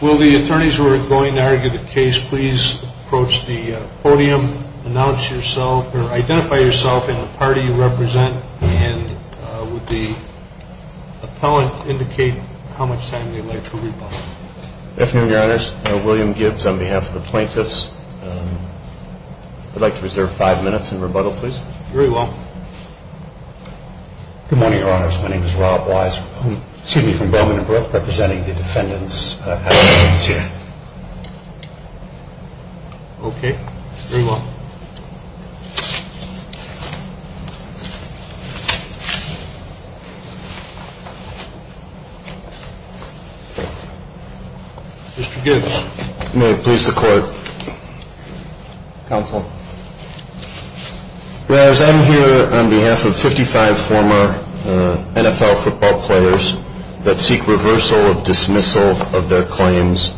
Will the attorneys who are going to argue the case please approach the podium, announce yourself, or identify yourself and the party you represent, and would the appellant indicate how much time they would like to argue the case. Good afternoon your honors, William Gibbs on behalf of the plaintiffs. I would like to reserve five minutes in rebuttal please. Very well. Good morning your honors, my name is Rob Wise, excuse me from Bowman and Brooke, representing the defendants. Mr. Gibbs, may it please the court. Counsel. Your honors, I am here on behalf of 55 former NFL football players that seek reversal of dismissal of their claims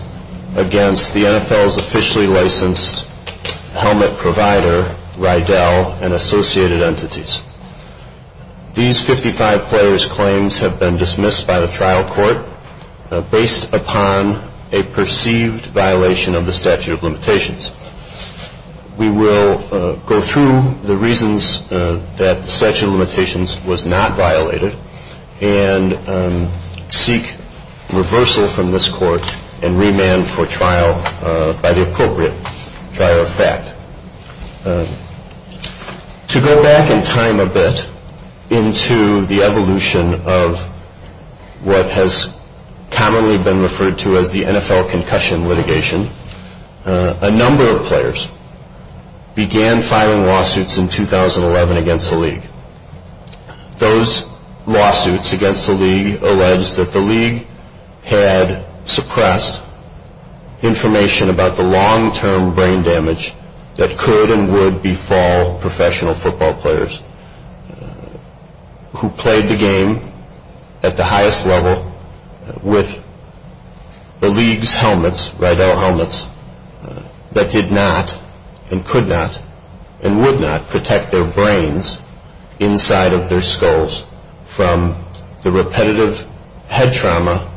against the NFL's officially licensed helmet provider, Riddell, and associated entities. These 55 players' claims have been dismissed by the trial court based upon a perceived violation of the statute of limitations. We will go through the reasons that the statute of limitations was not violated and seek reversal from this court and remand for trial by the appropriate trial effect. To go back in time a bit into the evolution of what has commonly been referred to as the NFL concussion litigation, a number of players began filing lawsuits in 2011 against the league. Those lawsuits against the league alleged that the league had suppressed information about the long-term brain damage that could and would befall professional football players who played the game at the highest level with the league's helmets, Riddell helmets, that did not and could not and would not protect their brains inside of their skulls from the repetitive head trauma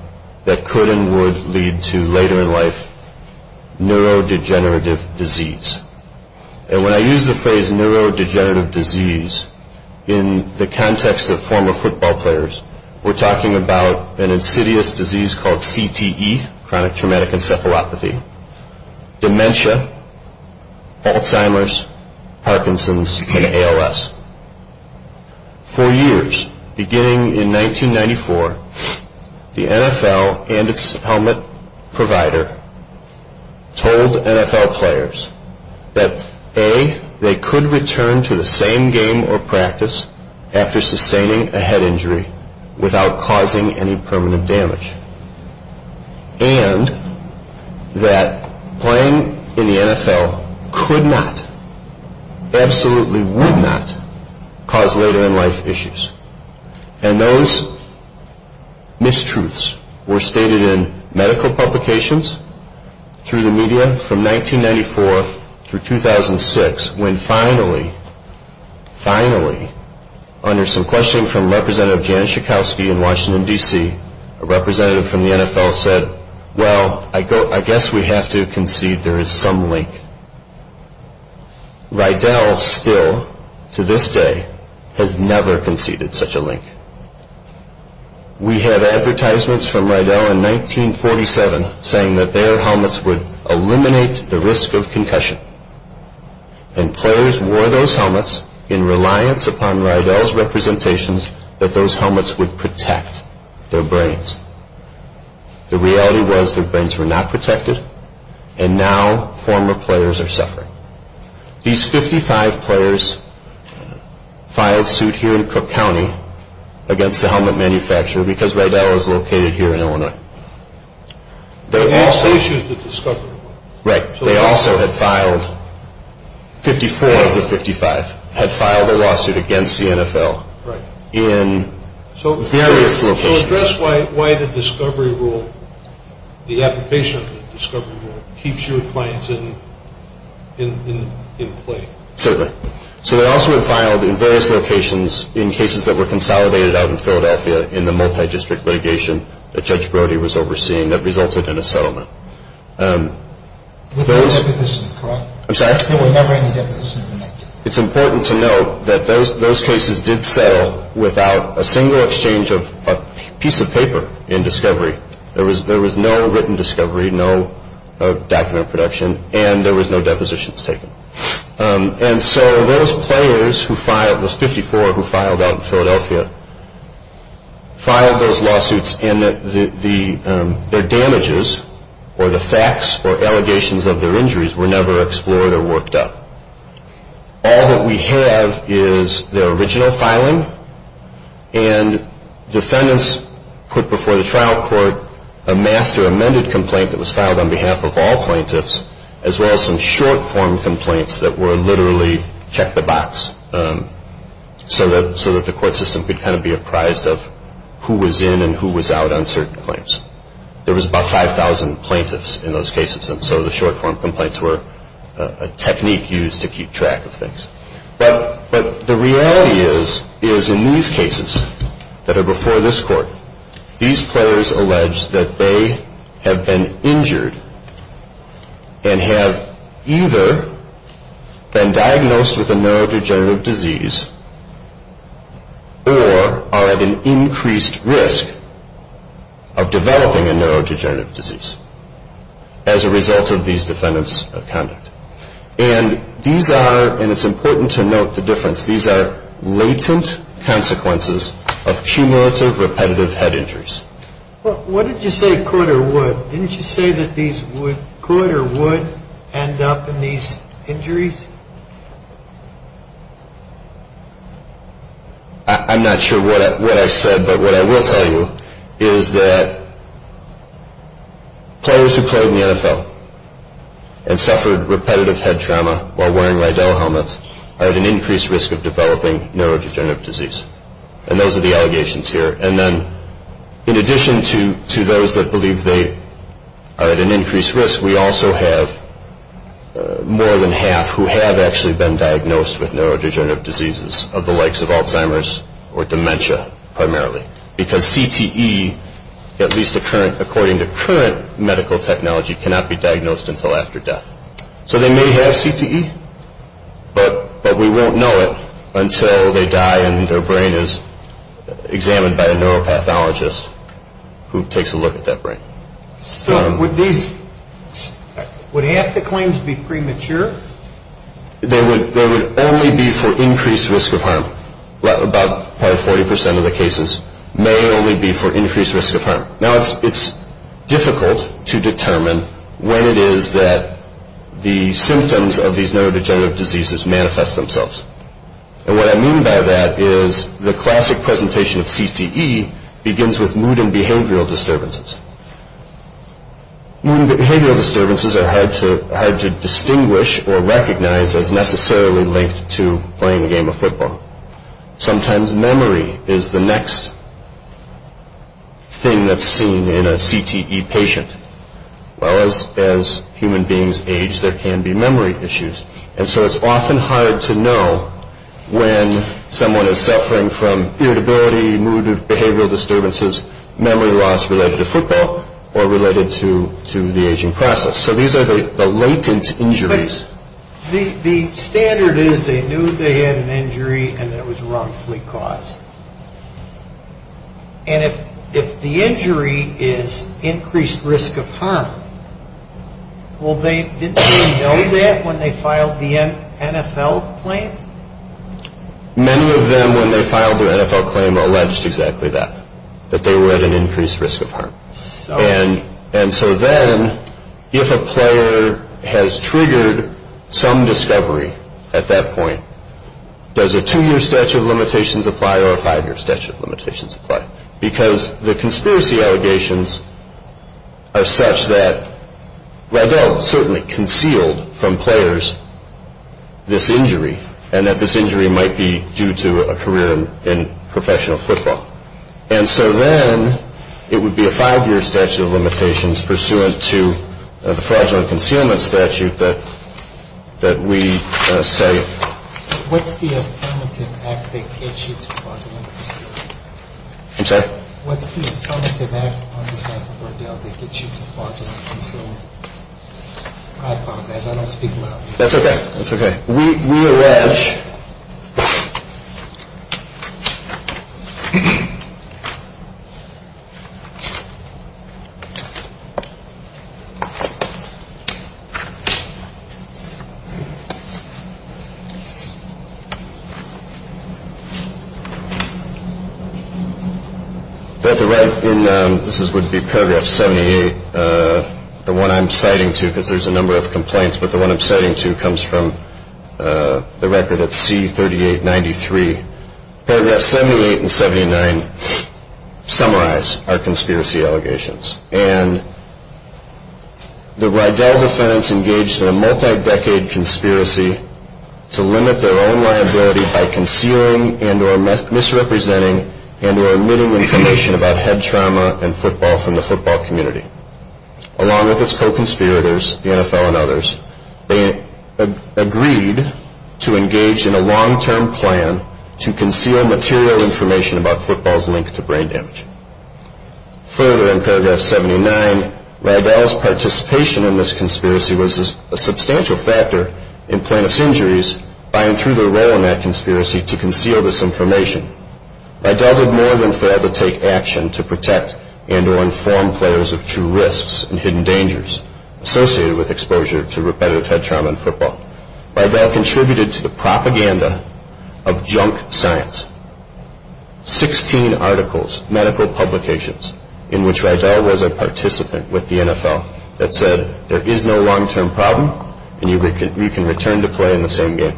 that could and would lead to later in life neurodegenerative disease. And when I use the phrase neurodegenerative disease in the context of former football players, we're talking about an insidious disease called CTE, chronic traumatic encephalopathy, dementia, Alzheimer's, Parkinson's, and ALS. For years, beginning in 1994, the NFL and its helmet provider told NFL players that, A, they could return to the same game or practice after sustaining a head injury without causing any permanent damage, and that playing in the NFL could not, absolutely would not, cause later in life issues. And those mistruths were stated in medical publications, through the media, from 1994 through 2006, when finally, finally, under some questioning from Representative Jan Schakowsky in Washington, D.C., a representative from the NFL said, Well, I guess we have to concede there is some link. Riddell still, to this day, has never conceded such a link. We have advertisements from Riddell in 1947 saying that their helmets would eliminate the risk of concussion. And players wore those helmets in reliance upon Riddell's representations that those helmets would protect their brains. The reality was their brains were not protected, and now former players are suffering. These 55 players filed suit here in Cook County against the helmet manufacturer because Riddell is located here in Illinois. They also issued the discovery rule. Right. They also had filed, 54 of the 55, had filed a lawsuit against the NFL in various locations. Can you address why the discovery rule, the application of the discovery rule, keeps your clients in play? Certainly. So they also had filed in various locations in cases that were consolidated out in Philadelphia in the multi-district litigation that Judge Brody was overseeing that resulted in a settlement. There were no depositions, correct? I'm sorry? There were never any depositions in that case. It's important to note that those cases did settle without a single exchange of a piece of paper in discovery. There was no written discovery, no document production, and there was no depositions taken. And so those players who filed, those 54 who filed out in Philadelphia, filed those lawsuits, and their damages or the facts or allegations of their injuries were never explored or worked up. All that we have is the original filing, and defendants put before the trial court a master amended complaint that was filed on behalf of all plaintiffs, as well as some short form complaints that were literally check the box, so that the court system could kind of be apprised of who was in and who was out on certain claims. There was about 5,000 plaintiffs in those cases, and so the short form complaints were a technique used to keep track of things. But the reality is, is in these cases that are before this court, these players allege that they have been injured and have either been diagnosed with a neurodegenerative disease or are at an increased risk of developing a neurodegenerative disease. And so the court has decided to do a comprehensive analysis of all of these cases, and it's important to note the difference. These are latent consequences of cumulative repetitive head injuries. What did you say could or would? Didn't you say that these could or would end up in these injuries? I'm not sure what I said, but what I will tell you is that players who played in the NFL and suffered repetitive head trauma while wearing Rydell helmets are at an increased risk of developing neurodegenerative disease. And those are the allegations here. And then in addition to those that believe they are at an increased risk, we also have more than half who have actually been diagnosed with neurodegenerative diseases of the likes of Alzheimer's or dementia primarily, because CTE, at least according to current medical technology, cannot be diagnosed until after death. So they may have CTE, but we won't know it until they die and their brain is examined by a neuropathologist who takes a look at that brain. So would half the claims be premature? They would only be for increased risk of harm. About 40% of the cases may only be for increased risk of harm. Now, it's difficult to determine when it is that the symptoms of these neurodegenerative diseases manifest themselves. And what I mean by that is the classic presentation of CTE begins with mood and behavioral disturbances. Mood and behavioral disturbances are hard to distinguish or recognize as necessarily linked to playing a game of football. Sometimes memory is the next thing that's seen in a CTE patient. Well, as human beings age, there can be memory issues. And so it's often hard to know when someone is suffering from irritability, mood or behavioral disturbances, memory loss related to football or related to the aging process. So these are the latent injuries. The standard is they knew they had an injury and it was wrongfully caused. And if the injury is increased risk of harm, well, didn't they know that when they filed the NFL claim? Many of them, when they filed their NFL claim, alleged exactly that, that they were at an increased risk of harm. And so then, if a player has triggered some discovery at that point, does a two-year statute of limitations apply or a five-year statute of limitations apply? Because the conspiracy allegations are such that, well, they'll certainly conceal from players this injury and that this injury might be due to a career in professional football. And so then it would be a five-year statute of limitations pursuant to the fraudulent concealment statute that we say. What's the affirmative act that gets you to fraudulent concealment? I'm sorry? What's the affirmative act on behalf of Bordell that gets you to fraudulent concealment? I apologize. I don't speak loudly. That's okay. That's okay. We arrange. This would be paragraph 78. The one I'm citing to, because there's a number of complaints, but the one I'm citing to comes from the record at C3893. Paragraphs 78 and 79 summarize our conspiracy allegations. And the Rydell defendants engaged in a multi-decade conspiracy to limit their own liability by concealing and or misrepresenting and or omitting information about head trauma and football from the football community. Along with its co-conspirators, the NFL and others, they agreed to engage in a long-term plan to conceal material information about football's link to brain damage. Further, in paragraph 79, Rydell's participation in this conspiracy was a substantial factor in plaintiff's injuries by and through their role in that conspiracy to conceal this information. Rydell did more than fail to take action to protect and or inform players of true risks and hidden dangers associated with exposure to repetitive head trauma in football. Rydell contributed to the propaganda of junk science. Sixteen articles, medical publications, in which Rydell was a participant with the NFL, that said there is no long-term problem and you can return to play in the same game.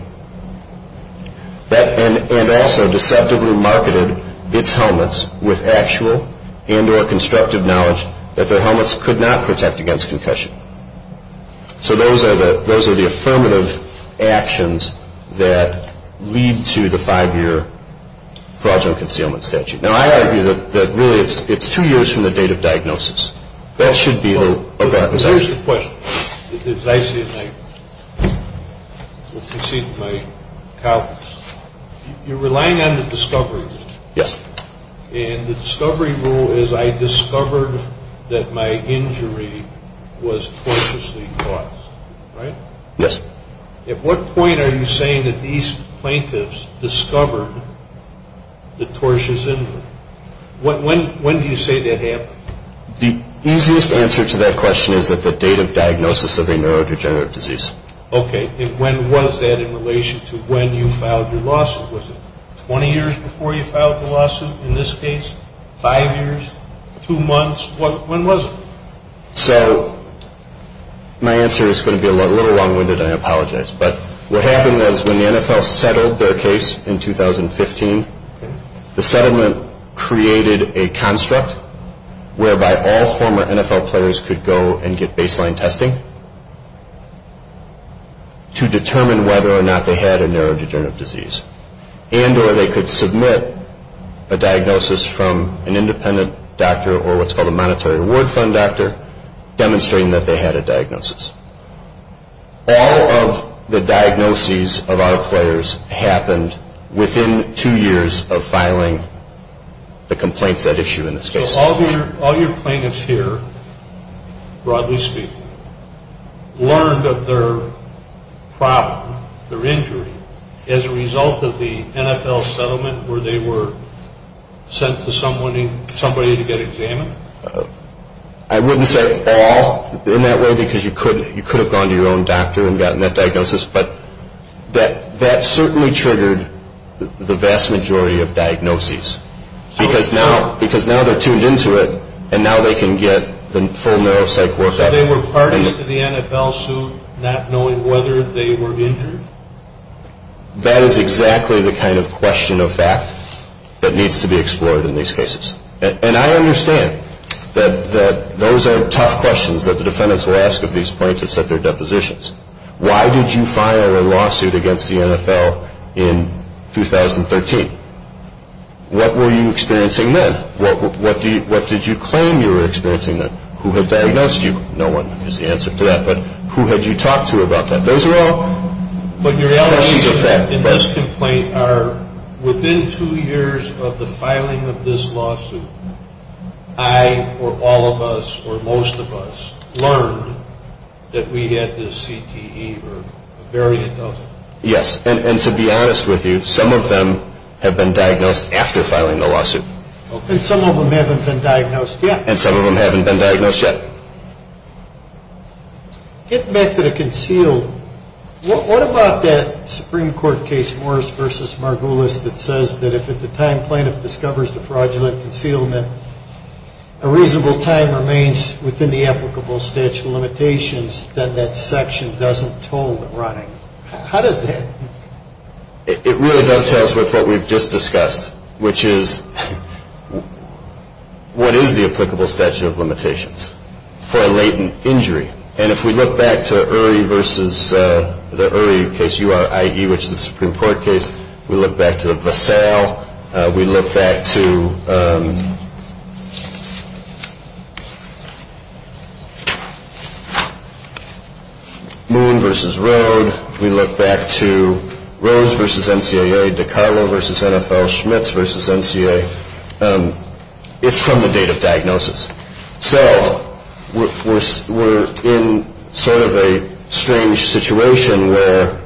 And also deceptively marketed its helmets with actual and or constructive knowledge that their helmets could not protect against concussion. So those are the affirmative actions that lead to the five-year fraudulent concealment statute. Now, I argue that really it's two years from the date of diagnosis. That should be the purpose. There's a question, as I see it, and I will concede to my colleagues. You're relying on the discovery rule. Yes. And the discovery rule is I discovered that my injury was tortiously caused, right? Yes. At what point are you saying that these plaintiffs discovered the tortious injury? When do you say that happened? The easiest answer to that question is at the date of diagnosis of a neurodegenerative disease. Okay. And when was that in relation to when you filed your lawsuit? Was it 20 years before you filed the lawsuit? In this case, five years, two months? When was it? So my answer is going to be a little long-winded. I apologize. But what happened is when the NFL settled their case in 2015, the settlement created a construct whereby all former NFL players could go and get baseline testing to determine whether or not they had a neurodegenerative disease and or they could submit a diagnosis from an independent doctor or what's called a monetary reward fund doctor demonstrating that they had a diagnosis. All of the diagnoses of our players happened within two years of filing the complaints at issue in this case. So all your plaintiffs here, broadly speaking, learned of their problem, their injury, as a result of the NFL settlement where they were sent to somebody to get examined? I wouldn't say all in that way because you could have gone to your own doctor and gotten that diagnosis, but that certainly triggered the vast majority of diagnoses because now they're tuned into it and now they can get the full neuropsych workup. So they were parties to the NFL suit not knowing whether they were injured? That is exactly the kind of question of fact that needs to be explored in these cases. And I understand that those are tough questions that the defendants will ask of these plaintiffs at their depositions. Why did you file a lawsuit against the NFL in 2013? What were you experiencing then? What did you claim you were experiencing then? Who had diagnosed you? No one is the answer to that, but who had you talked to about that? Those are all questions of fact. Within two years of the filing of this lawsuit, I or all of us or most of us learned that we had this CTE or variant of it? Yes, and to be honest with you, some of them have been diagnosed after filing the lawsuit. And some of them haven't been diagnosed yet? And some of them haven't been diagnosed yet. It meant that it concealed. What about that Supreme Court case, Morris v. Margulis, that says that if at the time plaintiff discovers the fraudulent concealment, a reasonable time remains within the applicable statute of limitations, then that section doesn't toll the running. How does that? It really does test with what we've just discussed, which is what is the applicable statute of limitations? It's for a latent injury. And if we look back to URI versus the URI case, U-R-I-E, which is the Supreme Court case, we look back to Vassal. We look back to Moon v. Road. We look back to Rose v. NCAA, DiCarlo v. NFL, Schmitz v. NCAA. It's from the date of diagnosis. So we're in sort of a strange situation where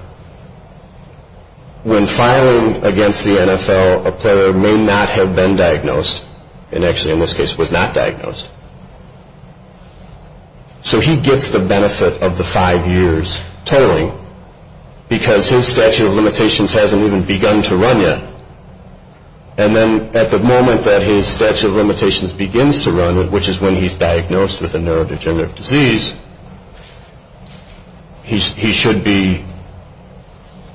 when filing against the NFL, a player may not have been diagnosed, and actually in this case was not diagnosed. So he gets the benefit of the five years tolling because his statute of limitations hasn't even begun to run yet. And then at the moment that his statute of limitations begins to run, which is when he's diagnosed with a neurodegenerative disease, he should be,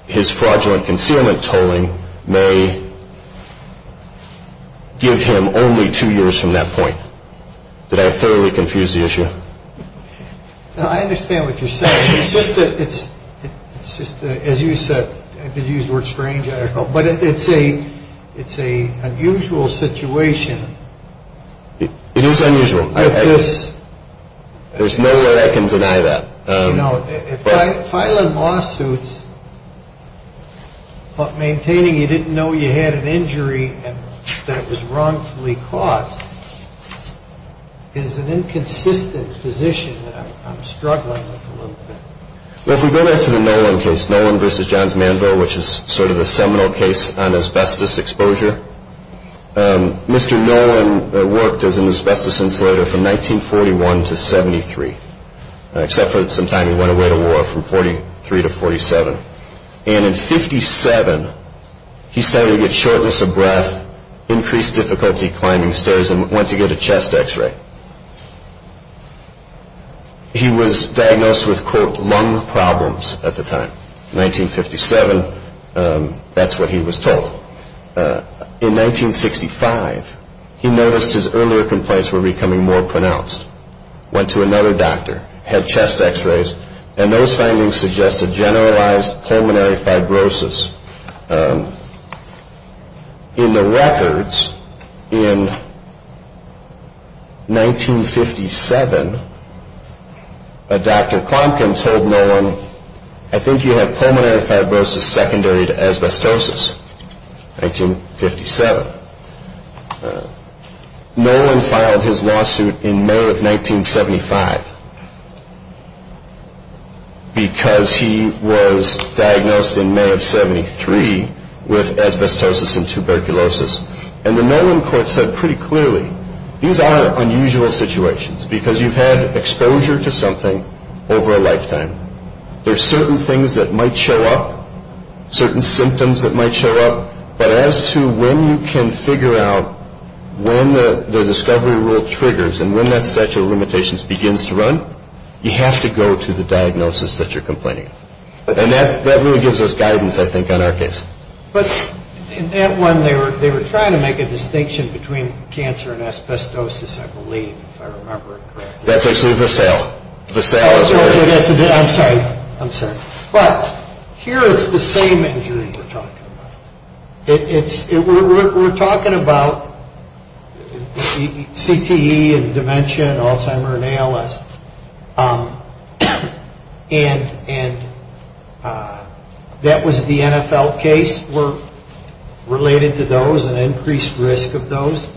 his fraudulent concealment tolling may give him only two years from that point. Did I thoroughly confuse the issue? No, I understand what you're saying. It's just that, as you said, I did use the word strange, but it's an unusual situation. It is unusual. There's no way I can deny that. You know, filing lawsuits but maintaining you didn't know you had an injury and that it was wrongfully caused is an inconsistent position that I'm struggling with a little bit. Well, if we go back to the Nolan case, Nolan v. Johns Mandel, which is sort of a seminal case on asbestos exposure, Mr. Nolan worked as an asbestos insulator from 1941 to 73, except for some time he went away to war from 43 to 47. And in 57, he started to get shortness of breath, increased difficulty climbing stairs, and went to get a chest X-ray. He was diagnosed with, quote, lung problems at the time. 1957, that's what he was told. In 1965, he noticed his earlier complaints were becoming more pronounced, went to another doctor, had chest X-rays, and those findings suggested generalized pulmonary fibrosis. In the records in 1957, a Dr. Clomkin told Nolan, I think you have pulmonary fibrosis secondary to asbestosis, 1957. Nolan filed his lawsuit in May of 1975 because he was diagnosed in May of 73 with asbestosis and tuberculosis. And the Nolan court said pretty clearly, these are unusual situations because you've had exposure to something over a lifetime. There are certain things that might show up, certain symptoms that might show up, but as to when you can figure out when the discovery rule triggers and when that statute of limitations begins to run, you have to go to the diagnosis that you're complaining of. And that really gives us guidance, I think, on our case. But in that one, they were trying to make a distinction between cancer and asbestosis, I believe, if I remember correctly. That's actually the sale. The sale is where it is. I'm sorry. I'm sorry. But here it's the same injury we're talking about. We're talking about CTE and dementia and Alzheimer and ALS. And that was the NFL case. We're related to those and increased risk of those.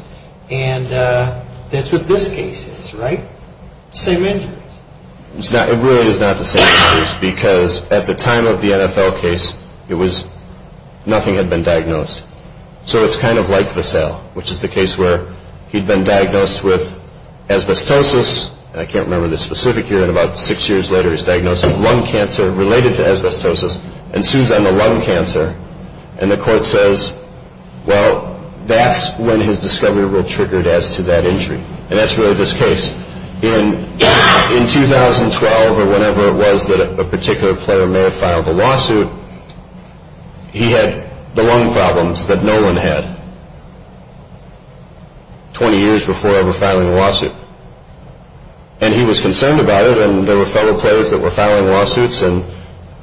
And that's what this case is, right? Same injuries. It really is not the same injuries because at the time of the NFL case, nothing had been diagnosed. So it's kind of like the sale, which is the case where he'd been diagnosed with asbestosis. I can't remember the specific year, but about six years later, he's diagnosed with lung cancer related to asbestosis and assumes I'm a lung cancer. And the court says, well, that's when his discovery rule triggered as to that injury. And that's really this case. In 2012 or whenever it was that a particular player may have filed a lawsuit, he had the lung problems that no one had 20 years before ever filing a lawsuit. And he was concerned about it, and there were fellow players that were filing lawsuits, and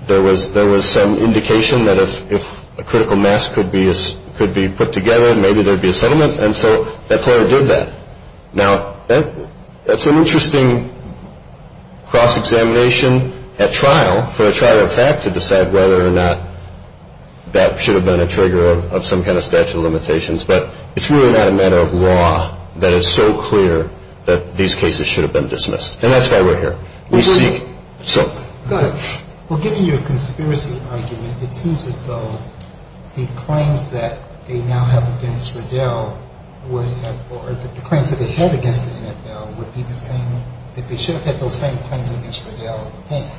there was some indication that if a critical mass could be put together, maybe there'd be a settlement. And so that player did that. Now, that's an interesting cross-examination at trial for the trial of fact to decide whether or not that should have been a trigger of some kind of statute of limitations. But it's really not a matter of law that is so clear that these cases should have been dismissed. And that's why we're here. Go ahead. Well, given your conspiracy argument, it seems as though the claims that they now have against Riddell or the claims that they had against the NFL would be the same, that they should have had those same claims against Riddell then.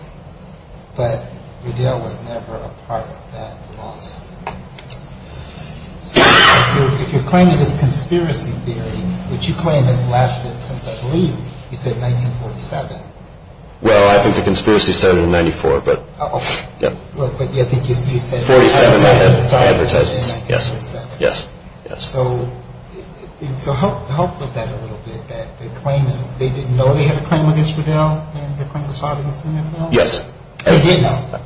But Riddell was never a part of that loss. So if you're claiming it's conspiracy theory, which you claim has lasted since I believe you said 1947, well, I think the conspiracy started in 1994. But you said advertisements started in 1947. Yes. So help with that a little bit, that the claims, they didn't know they had a claim against Riddell, and the claim was filed against the NFL? Yes. They did know.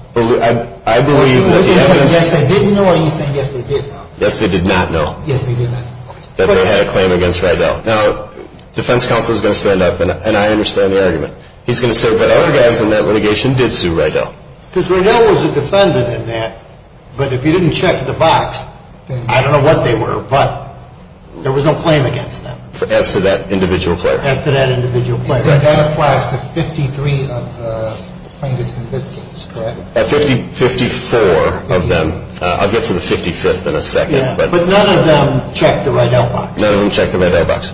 I believe that the evidence. Yes, they did know, or are you saying yes, they did know? Yes, they did not know. Yes, they did not. That they had a claim against Riddell. Now, defense counsel is going to stand up, and I understand the argument. He's going to say, but other guys in that litigation did sue Riddell. Because Riddell was a defendant in that, but if you didn't check the box, I don't know what they were, but there was no claim against them. As to that individual player. As to that individual player. That applies to 53 of the plaintiffs in this case, correct? 54 of them. I'll get to the 55th in a second. But none of them checked the Riddell box. None of them checked the Riddell box.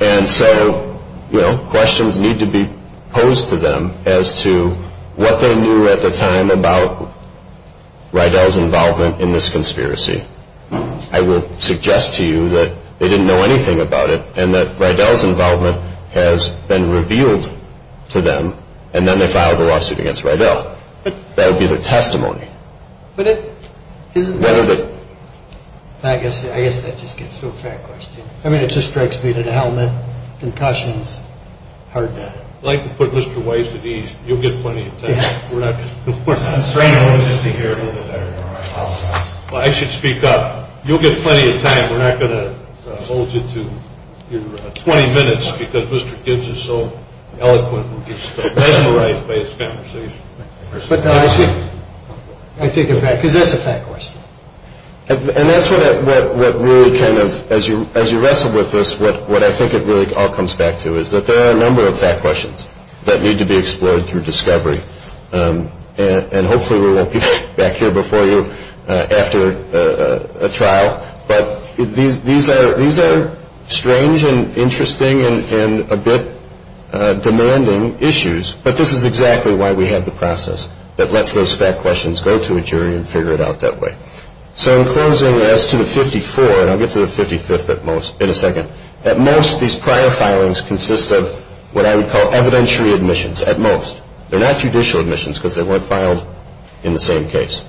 And so, you know, questions need to be posed to them as to what they knew at the time about Riddell's involvement in this conspiracy. I will suggest to you that they didn't know anything about it, and that Riddell's involvement has been revealed to them, and then they filed a lawsuit against Riddell. That would be their testimony. I guess that just gets so fat-questioned. I mean, it just strikes me that a helmet, concussions, hard to... I'd like to put Mr. Weiss at ease. You'll get plenty of time. We're not just... We're not trying to resist the argument. Well, I should speak up. You'll get plenty of time. We're not going to hold you to your 20 minutes because Mr. Gibbs is so eloquent. We're just mesmerized by his conversation. I take it back, because that's a fat question. And that's what really kind of, as you wrestle with this, what I think it really all comes back to is that there are a number of fat questions that need to be explored through discovery, and hopefully we won't be back here before you after a trial. But these are strange and interesting and a bit demanding issues, but this is exactly why we have the process that lets those fat questions go to a jury and figure it out that way. So in closing, as to the 54, and I'll get to the 55th in a second, at most these prior filings consist of what I would call evidentiary admissions, at most. They're not judicial admissions because they weren't filed in the same case.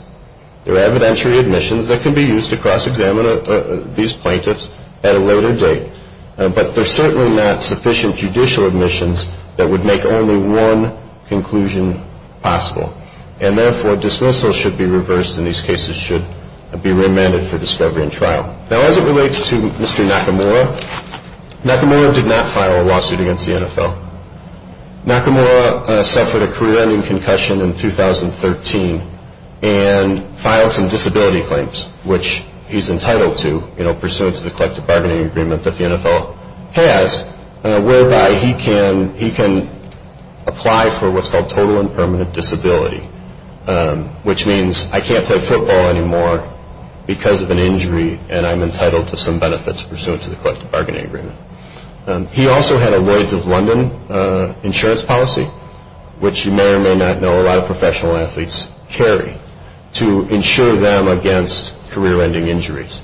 They're evidentiary admissions that can be used to cross-examine these plaintiffs at a later date, but they're certainly not sufficient judicial admissions that would make only one conclusion possible, and therefore dismissals should be reversed and these cases should be remanded for discovery and trial. Now, as it relates to Mr. Nakamura, Nakamura did not file a lawsuit against the NFL. Nakamura suffered a career-ending concussion in 2013 and filed some disability claims, which he's entitled to, pursuant to the collective bargaining agreement that the NFL has, whereby he can apply for what's called total and permanent disability, which means I can't play football anymore because of an injury and I'm entitled to some benefits pursuant to the collective bargaining agreement. He also had a Lloyd's of London insurance policy, which you may or may not know a lot of professional athletes carry, to insure them against career-ending injuries.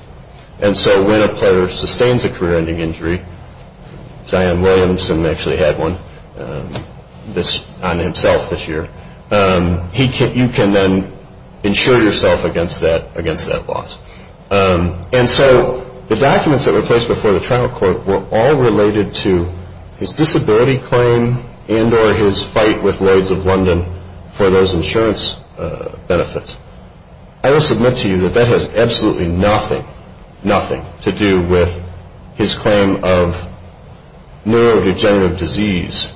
And so when a player sustains a career-ending injury, Zion Williamson actually had one on himself this year, you can then insure yourself against that loss. And so the documents that were placed before the trial court were all related to his disability claim and or his fight with Lloyd's of London for those insurance benefits. I will submit to you that that has absolutely nothing, nothing to do with his claim of neurodegenerative disease,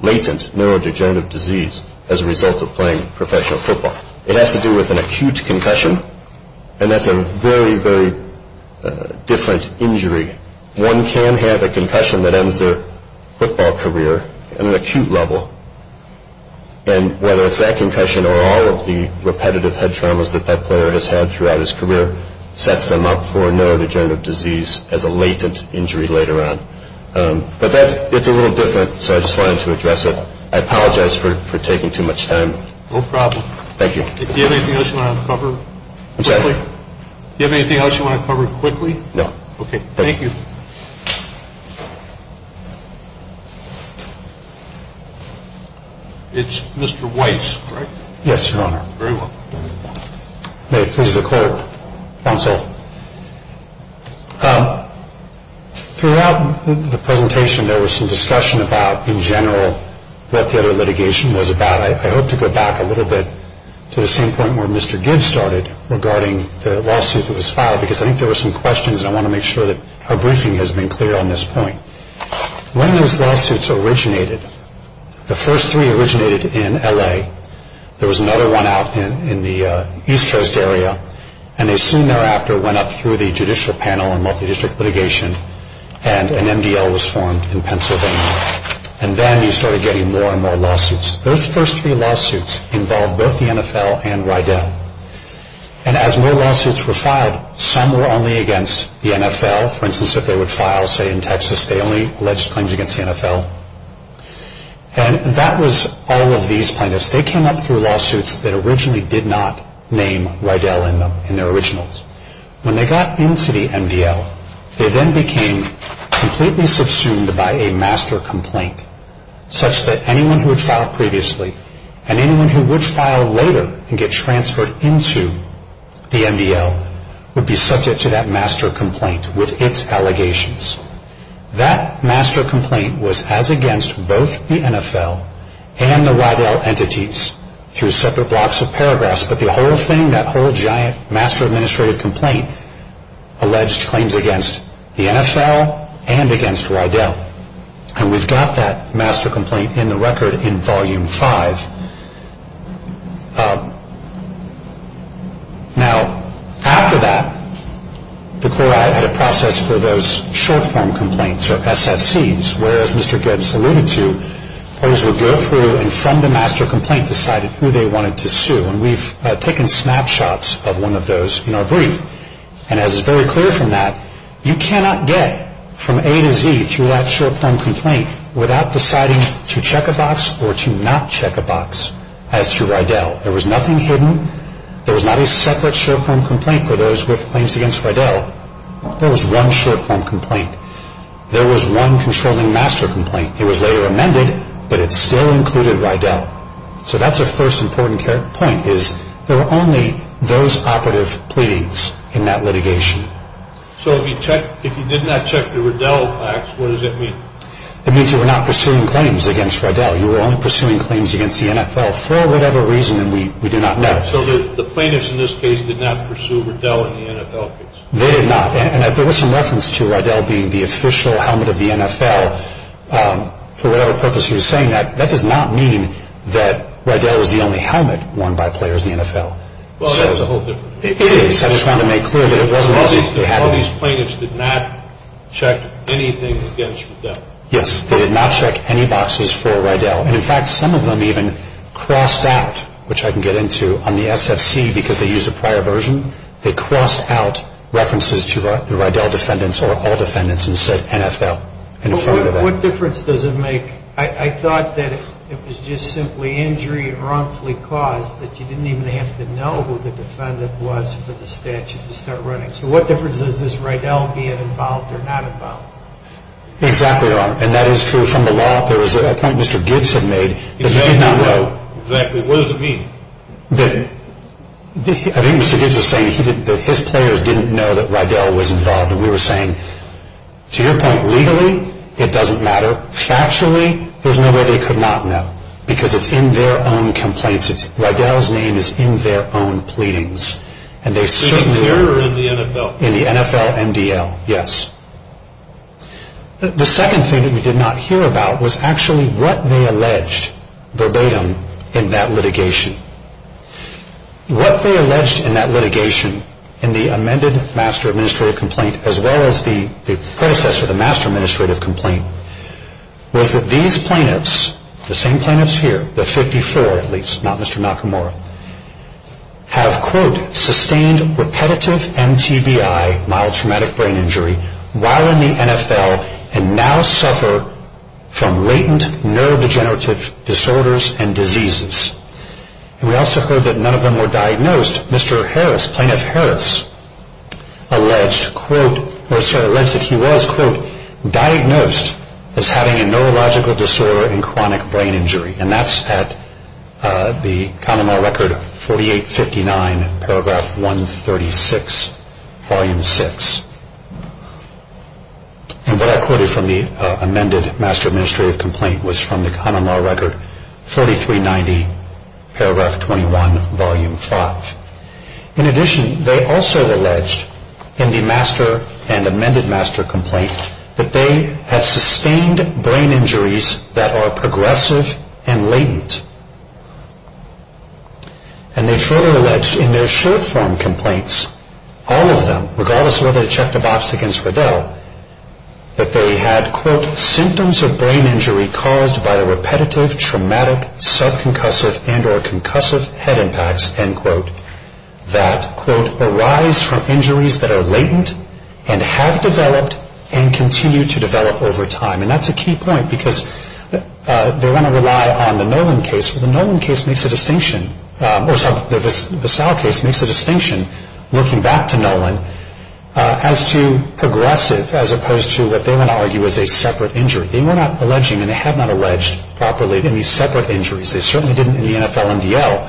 latent neurodegenerative disease as a result of playing professional football. It has to do with an acute concussion and that's a very, very different injury. One can have a concussion that ends their football career at an acute level and whether it's that concussion or all of the repetitive head traumas that that player has had throughout his career sets them up for neurodegenerative disease as a latent injury later on. But that's, it's a little different so I just wanted to address it. I apologize for taking too much time. No problem. Thank you. Do you have anything else you want to cover? I'm sorry? Do you have anything else you want to cover quickly? No. Okay, thank you. It's Mr. Weiss, correct? Yes, Your Honor. Very well. May it please the court, counsel. Throughout the presentation there was some discussion about in general what the other litigation was about. I hope to go back a little bit to the same point where Mr. Gibbs started regarding the lawsuit that was filed because I think there were some questions and I want to make sure that our briefing has been clear on this point. When those lawsuits originated, the first three originated in L.A. There was another one out in the East Coast area and they soon thereafter went up through the Judicial Panel on Multidistrict Litigation and an MDL was formed in Pennsylvania. And then you started getting more and more lawsuits. Those first three lawsuits involved both the NFL and Rydell. And as more lawsuits were filed, some were only against the NFL. For instance, if they would file, say, in Texas, they only alleged claims against the NFL. And that was all of these plaintiffs. They came up through lawsuits that originally did not name Rydell in them, in their originals. When they got into the MDL, they then became completely subsumed by a master complaint such that anyone who had filed previously and anyone who would file later and get transferred into the MDL would be subject to that master complaint with its allegations. That master complaint was as against both the NFL and the Rydell entities through separate blocks of paragraphs. But the whole thing, that whole giant master administrative complaint, alleged claims against the NFL and against Rydell. And we've got that master complaint in the record in Volume 5. Now, after that, the CORE Act had a process for those short-form complaints, or SFCs, where, as Mr. Gibbs alluded to, lawyers would go through and from the master complaint decide who they wanted to sue. And we've taken snapshots of one of those in our brief. And as is very clear from that, you cannot get from A to Z through that short-form complaint without deciding to check a box or to not check a box as to Rydell. There was nothing hidden. There was not a separate short-form complaint for those with claims against Rydell. There was one short-form complaint. There was one controlling master complaint. It was later amended, but it still included Rydell. So that's a first important point, is there were only those operative pleads in that litigation. So if you did not check the Rydell box, what does that mean? It means you were not pursuing claims against Rydell. You were only pursuing claims against the NFL for whatever reason, and we do not know. So the plaintiffs in this case did not pursue Rydell in the NFL case? They did not. And if there was some reference to Rydell being the official helmet of the NFL, for whatever purpose he was saying that, that does not mean that Rydell was the only helmet worn by players in the NFL. Well, that's a whole different thing. It is. I just wanted to make clear that it wasn't as if they had it. All these plaintiffs did not check anything against Rydell? Yes, they did not check any boxes for Rydell. And, in fact, some of them even crossed out, which I can get into on the SFC because they used a prior version. They crossed out references to the Rydell defendants or all defendants and said NFL. What difference does it make? I thought that it was just simply injury, wrongfully caused, that you didn't even have to know who the defendant was for the statute to start running. So what difference is this Rydell being involved or not involved? Exactly wrong. And that is true from the law. There was a point Mr. Gibbs had made. Exactly. What does it mean? I think Mr. Gibbs was saying that his players didn't know that Rydell was involved. We were saying, to your point, legally, it doesn't matter. Factually, there's no way they could not know because it's in their own complaints. Rydell's name is in their own pleadings. Is it here or in the NFL? In the NFL MDL, yes. The second thing that we did not hear about was actually what they alleged verbatim in that litigation. What they alleged in that litigation, in the amended Master Administrative Complaint, as well as the process for the Master Administrative Complaint, was that these plaintiffs, the same plaintiffs here, the 54 at least, not Mr. Nakamura, have quote, sustained repetitive MTBI, mild traumatic brain injury, while in the NFL and now suffer from latent neurodegenerative disorders and diseases. We also heard that none of them were diagnosed. Mr. Harris, Plaintiff Harris, alleged that he was quote, diagnosed as having a neurological disorder and chronic brain injury. That's at the Common Law Record 4859, paragraph 136, volume 6. And what I quoted from the amended Master Administrative Complaint was from the Common Law Record 4390, paragraph 21, volume 5. In addition, they also alleged in the Master and amended Master Complaint that they had sustained brain injuries that are progressive and latent. And they further alleged in their short form complaints, all of them, regardless of whether they checked the box against Riddell, that they had quote, symptoms of brain injury caused by repetitive, traumatic, sub-concussive and or concussive head impacts, end quote, that quote, arise from injuries that are latent and have developed and continue to develop over time. And that's a key point because they want to rely on the Nolan case. The Nolan case makes a distinction, or the Vassal case makes a distinction, looking back to Nolan, as to progressive as opposed to what they want to argue as a separate injury. They were not alleging and they have not alleged properly any separate injuries. They certainly didn't in the NFL and DL.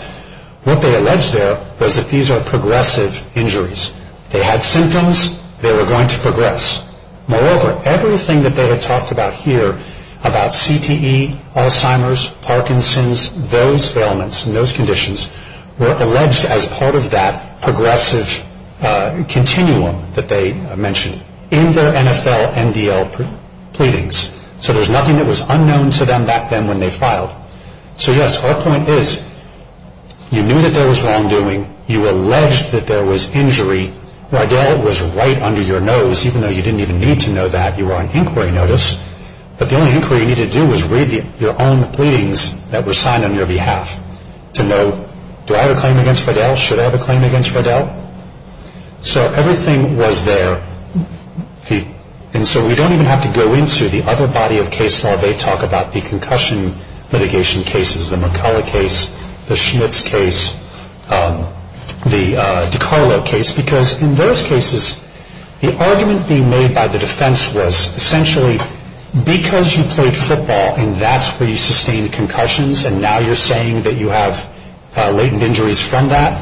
What they alleged there was that these are progressive injuries. They had symptoms. They were going to progress. Moreover, everything that they had talked about here, about CTE, Alzheimer's, Parkinson's, those ailments and those conditions, were alleged as part of that progressive continuum that they mentioned in their NFL and DL pleadings. So there's nothing that was unknown to them back then when they filed. So yes, our point is you knew that there was wrongdoing. You alleged that there was injury. Riddell was right under your nose, even though you didn't even need to know that. You were on inquiry notice. But the only inquiry you needed to do was read your own pleadings that were signed on your behalf to know do I have a claim against Riddell? Should I have a claim against Riddell? So everything was there. And so we don't even have to go into the other body of case law. They talk about the concussion mitigation cases, the McCullough case, the Schmitz case, the DiCarlo case, because in those cases, the argument being made by the defense was essentially because you played football and that's where you sustained concussions and now you're saying that you have latent injuries from that,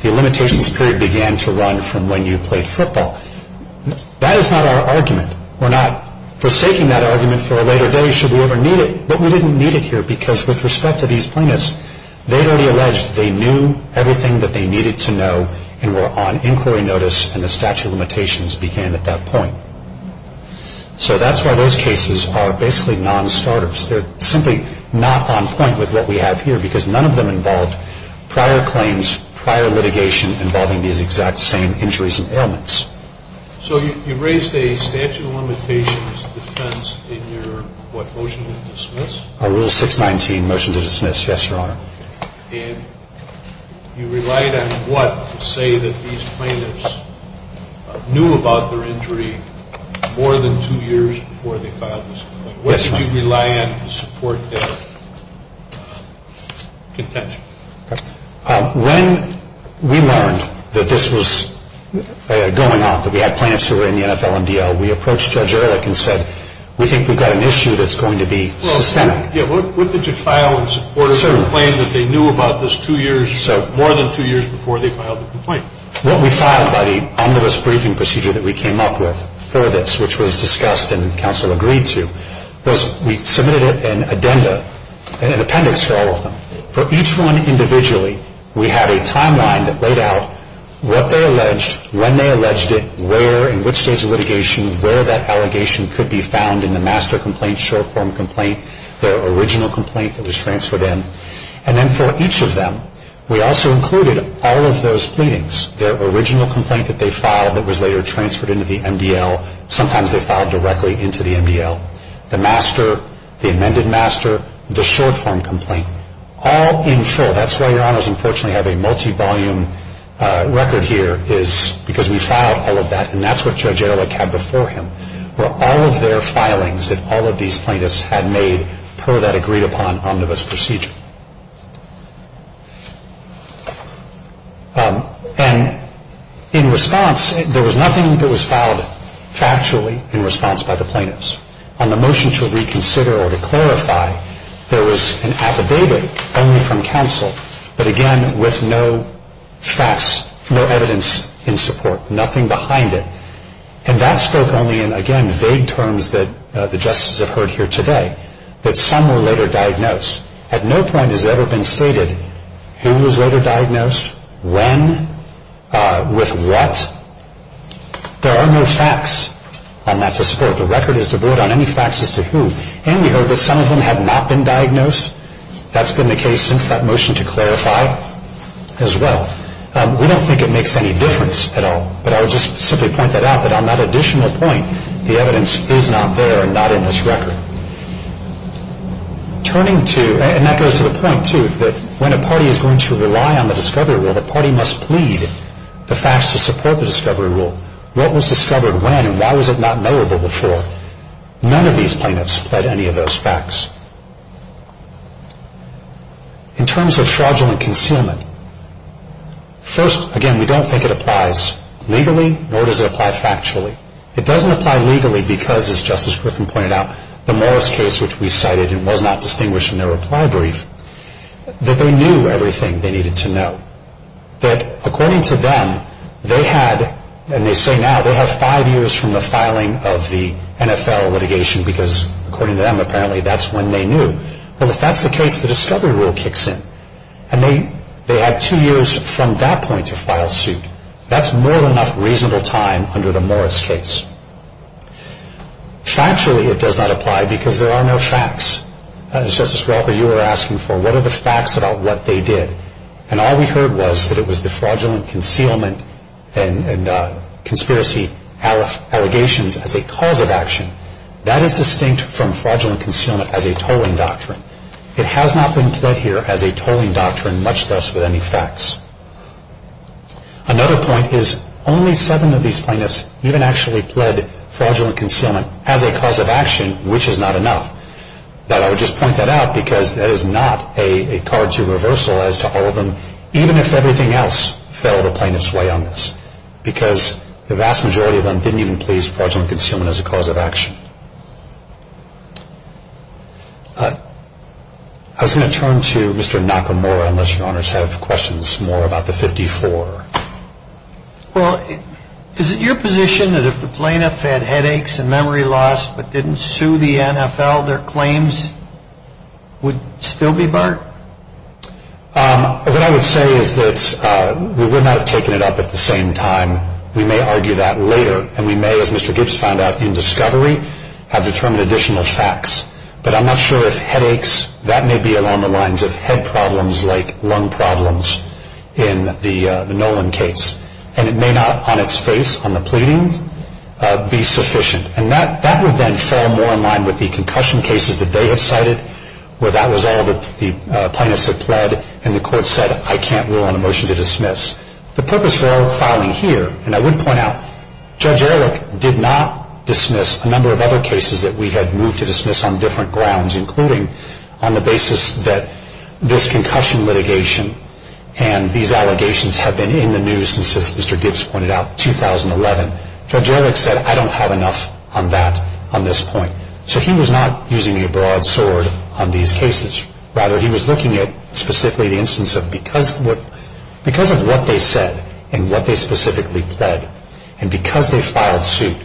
the limitations period began to run from when you played football. That is not our argument. We're not forsaking that argument for a later day should we ever need it. But we didn't need it here because with respect to these plaintiffs, they had already alleged they knew everything that they needed to know and were on inquiry notice and the statute of limitations began at that point. So that's why those cases are basically non-starters. They're simply not on point with what we have here because none of them involved prior claims, prior litigation involving these exact same injuries and ailments. So you raised a statute of limitations defense in your what, motion to dismiss? Rule 619, motion to dismiss. Yes, Your Honor. And you relied on what to say that these plaintiffs knew about their injury more than two years before they filed this complaint? Yes, Your Honor. What did you rely on to support their contention? When we learned that this was going on, that we had plaintiffs who were in the NFL and DL, we approached Judge Ehrlich and said, we think we've got an issue that's going to be systemic. Yeah, what did you file in support of the claim that they knew about this two years, more than two years before they filed the complaint? What we filed by the omnibus briefing procedure that we came up with for this, which was discussed and counsel agreed to, was we submitted an addenda, an appendix for all of them. For each one individually, we had a timeline that laid out what they alleged, when they alleged it, where, in which stage of litigation, where that allegation could be found in the master complaint, short form complaint. Their original complaint that was transferred in. And then for each of them, we also included all of those pleadings. Their original complaint that they filed that was later transferred into the MDL. Sometimes they filed directly into the MDL. The master, the amended master, the short form complaint. All in full. That's why, Your Honors, unfortunately I have a multi-volume record here, is because we filed all of that, and that's what Judge Ehrlich had before him, were all of their filings that all of these plaintiffs had made per that agreed upon omnibus procedure. And in response, there was nothing that was filed factually in response by the plaintiffs. On the motion to reconsider or to clarify, there was an affidavit only from counsel, but again with no facts, no evidence in support. Nothing behind it. And that spoke only in, again, vague terms that the justices have heard here today, that some were later diagnosed. At no point has it ever been stated who was later diagnosed, when, with what. There are no facts on that to support. The record is devoid on any facts as to who. And we heard that some of them had not been diagnosed. That's been the case since that motion to clarify as well. We don't think it makes any difference at all. But I would just simply point that out, that on that additional point, the evidence is not there and not in this record. Turning to, and that goes to the point too, that when a party is going to rely on the discovery rule, the party must plead the facts to support the discovery rule. What was discovered when and why was it not knowable before? None of these plaintiffs pled any of those facts. In terms of fraudulent concealment, first, again, we don't think it applies legally, nor does it apply factually. It doesn't apply legally because, as Justice Griffin pointed out, the Morris case, which we cited and was not distinguished in their reply brief, that they knew everything they needed to know. That, according to them, they had, and they say now, they have five years from the filing of the NFL litigation, because, according to them, apparently that's when they knew. Well, if that's the case, the discovery rule kicks in. And they had two years from that point to file suit. That's more than enough reasonable time under the Morris case. Factually, it does not apply because there are no facts. As, Justice Walker, you were asking for, what are the facts about what they did? And all we heard was that it was the fraudulent concealment and conspiracy allegations as a cause of action. That is distinct from fraudulent concealment as a tolling doctrine. It has not been pled here as a tolling doctrine, much less with any facts. Another point is only seven of these plaintiffs even actually pled fraudulent concealment as a cause of action, which is not enough. But I would just point that out because that is not a card to reversal as to all of them, even if everything else fell the plaintiff's way on this, because the vast majority of them didn't even please fraudulent concealment as a cause of action. I was going to turn to Mr. Nakamura, unless your honors have questions more about the 54. Well, is it your position that if the plaintiff had headaches and memory loss but didn't sue the NFL, their claims would still be barred? What I would say is that we would not have taken it up at the same time. We may argue that later, and we may, as Mr. Gibbs found out in discovery, have determined additional facts. But I'm not sure if headaches, that may be along the lines of head problems like lung problems in the Nolan case. And it may not on its face, on the pleadings, be sufficient. And that would then fall more in line with the concussion cases that they have cited where that was all that the plaintiffs had pled and the court said, I can't rule on a motion to dismiss. The purpose of our filing here, and I would point out, Judge Ehrlich did not dismiss a number of other cases that we had moved to dismiss on different grounds, including on the basis that this concussion litigation and these allegations have been in the news since, as Mr. Gibbs pointed out, 2011. Judge Ehrlich said, I don't have enough on that, on this point. So he was not using a broad sword on these cases. Rather, he was looking at specifically the instance of because of what they said and what they specifically pled. And because they filed suit,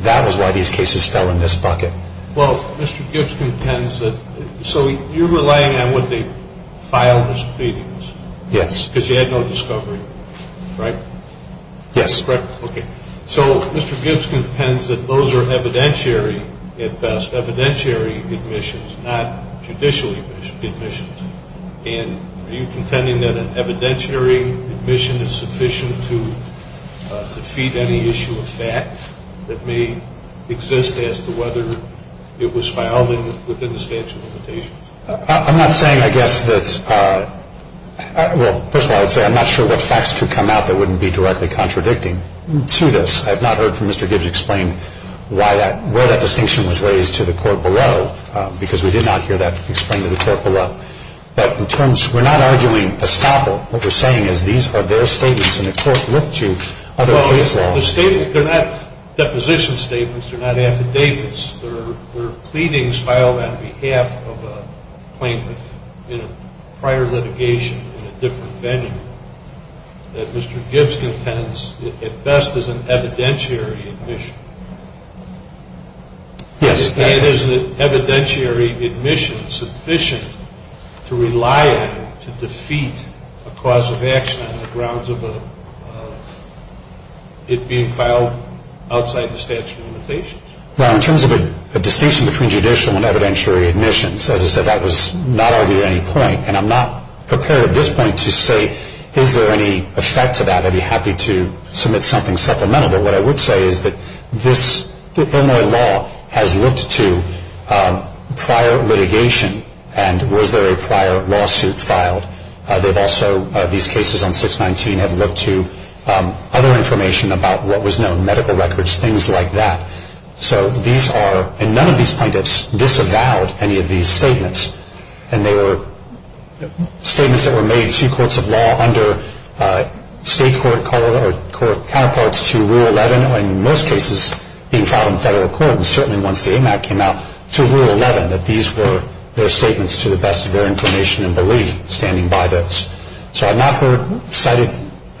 that was why these cases fell in this bucket. Well, Mr. Gibbs contends that so you're relying on what they filed as pleadings. Yes. Because you had no discovery, right? Yes. Correct. Okay. So Mr. Gibbs contends that those are evidentiary at best, evidentiary admissions, not judicial admissions. And are you contending that an evidentiary admission is sufficient to defeat any issue of fact that may exist as to whether it was filed within the statute of limitations? I'm not saying, I guess, that's – well, first of all, I would say I'm not sure what facts could come out that wouldn't be directly contradicting to this. I have not heard from Mr. Gibbs explain why that – where that distinction was raised to the court below, because we did not hear that explained to the court below. But in terms – we're not arguing a sample. What we're saying is these are their statements, and the court looked to other case laws. Well, the statement – they're not deposition statements. They're not affidavits. They're pleadings filed on behalf of a plaintiff in a prior litigation in a different venue that Mr. Gibbs contends at best is an evidentiary admission. Yes. And is an evidentiary admission sufficient to rely on to defeat a cause of action on the grounds of it being filed outside the statute of limitations? Well, in terms of a distinction between judicial and evidentiary admissions, as I said, that was not argued at any point. And I'm not prepared at this point to say is there any effect to that. I'd be happy to submit something supplemental. What I would say is that this – the Illinois law has looked to prior litigation and was there a prior lawsuit filed. They've also – these cases on 619 have looked to other information about what was known, medical records, things like that. So these are – and none of these plaintiffs disavowed any of these statements. And they were statements that were made to courts of law under state court counterparts to Rule 11, in most cases being filed in federal court, and certainly once the AMAC came out to Rule 11, that these were their statements to the best of their information and belief standing by those. So I've not heard – cited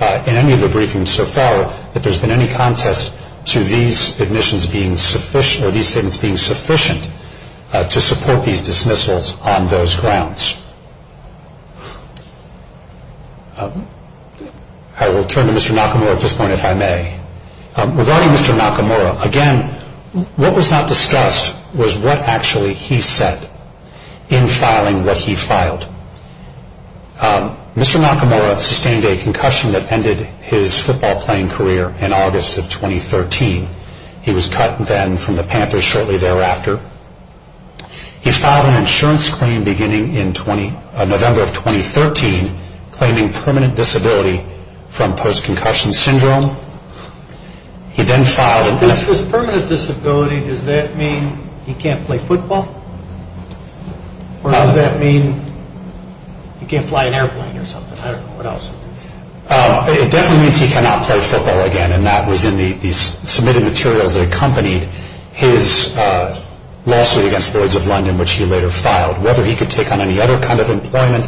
in any of the briefings so far that there's been any contest to these admissions being sufficient – or these statements being sufficient to support these dismissals on those grounds. I will turn to Mr. Nakamura at this point, if I may. Regarding Mr. Nakamura, again, what was not discussed was what actually he said in filing what he filed. Mr. Nakamura sustained a concussion that ended his football playing career in August of 2013. He was cut then from the Panthers shortly thereafter. He filed an insurance claim beginning in November of 2013, claiming permanent disability from post-concussion syndrome. He then filed – With permanent disability, does that mean he can't play football? Or does that mean he can't fly an airplane or something? I don't know. What else? It definitely means he cannot play football again, and that was in the submitted materials that accompanied his lawsuit against Lloyds of London, which he later filed. Whether he could take on any other kind of employment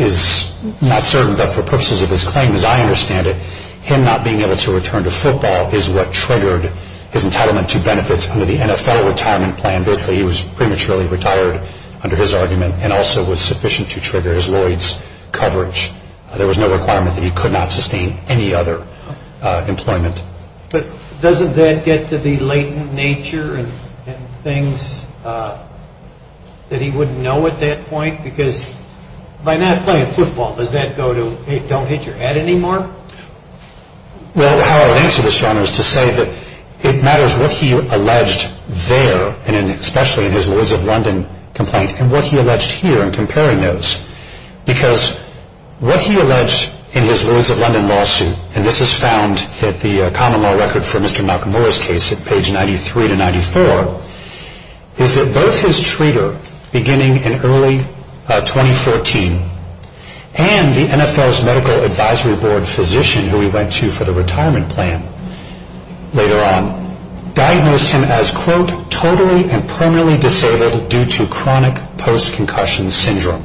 is not certain, but for purposes of his claim, as I understand it, him not being able to return to football is what triggered his entitlement to benefits under the NFL retirement plan. Basically, he was prematurely retired under his argument and also was sufficient to trigger his Lloyds coverage. There was no requirement that he could not sustain any other employment. But doesn't that get to the latent nature and things that he wouldn't know at that point? Because by not playing football, does that go to, hey, don't hit your head anymore? Well, how I would answer this, John, is to say that it matters what he alleged there, and especially in his Lloyds of London complaint, and what he alleged here in comparing those. Because what he alleged in his Lloyds of London lawsuit, and this is found in the common law record for Mr. Malcolm Miller's case at page 93 to 94, is that both his treater, beginning in early 2014, and the NFL's medical advisory board physician, who he went to for the retirement plan later on, diagnosed him as, quote, totally and permanently disabled due to chronic post-concussion syndrome.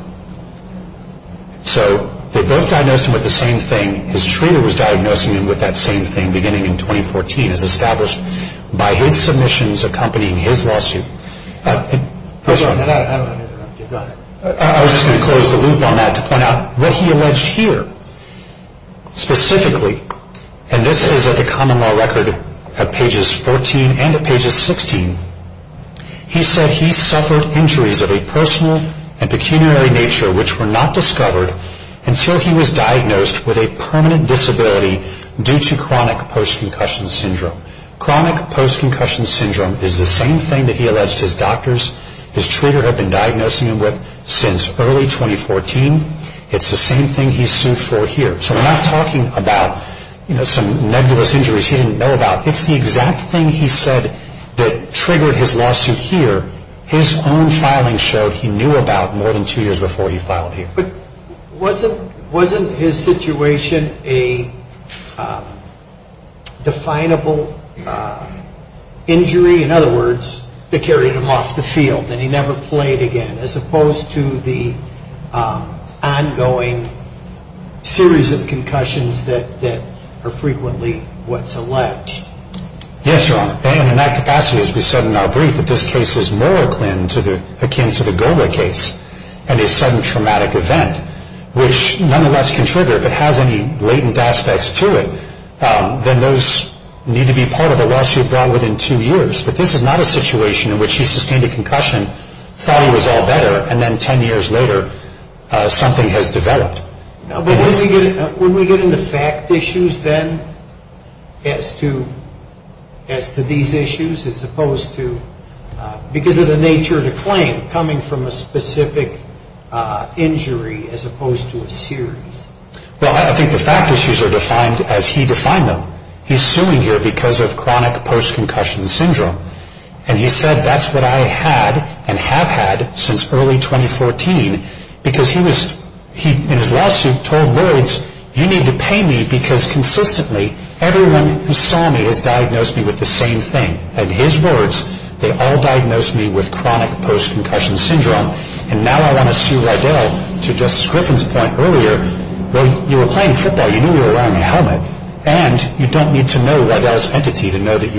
So they both diagnosed him with the same thing. His treater was diagnosing him with that same thing beginning in 2014, as established by his submissions accompanying his lawsuit. I was just going to close the loop on that to point out what he alleged here, specifically. And this is at the common law record at pages 14 and at pages 16. He said he suffered injuries of a personal and pecuniary nature, which were not discovered until he was diagnosed with a permanent disability due to chronic post-concussion syndrome. Chronic post-concussion syndrome is the same thing that he alleged his doctors, his treater had been diagnosing him with since early 2014. It's the same thing he's sued for here. So we're not talking about, you know, some nebulous injuries he didn't know about. It's the exact thing he said that triggered his lawsuit here. His own filing showed he knew about more than two years before he filed here. But wasn't his situation a definable injury? In other words, they carried him off the field and he never played again, as opposed to the ongoing series of concussions that are frequently what's alleged. Yes, Your Honor. And in that capacity, as we said in our brief, that this case is more akin to the Goma case and a sudden traumatic event, which nonetheless can trigger, if it has any latent aspects to it, then those need to be part of a lawsuit brought within two years. But this is not a situation in which he sustained a concussion, thought he was all better, and then ten years later something has developed. But wouldn't we get into fact issues then as to these issues as opposed to, because of the nature of the claim, coming from a specific injury as opposed to a series? Well, I think the fact issues are defined as he defined them. He's suing here because of chronic post-concussion syndrome. And he said, that's what I had and have had since early 2014. Because he was, in his lawsuit, told lords, you need to pay me because consistently everyone who saw me has diagnosed me with the same thing. In his words, they all diagnosed me with chronic post-concussion syndrome. And now I want to sue Rydell, to Justice Griffin's point earlier, you were playing football, you knew you were wearing a helmet, and you don't need to know Rydell's entity to know that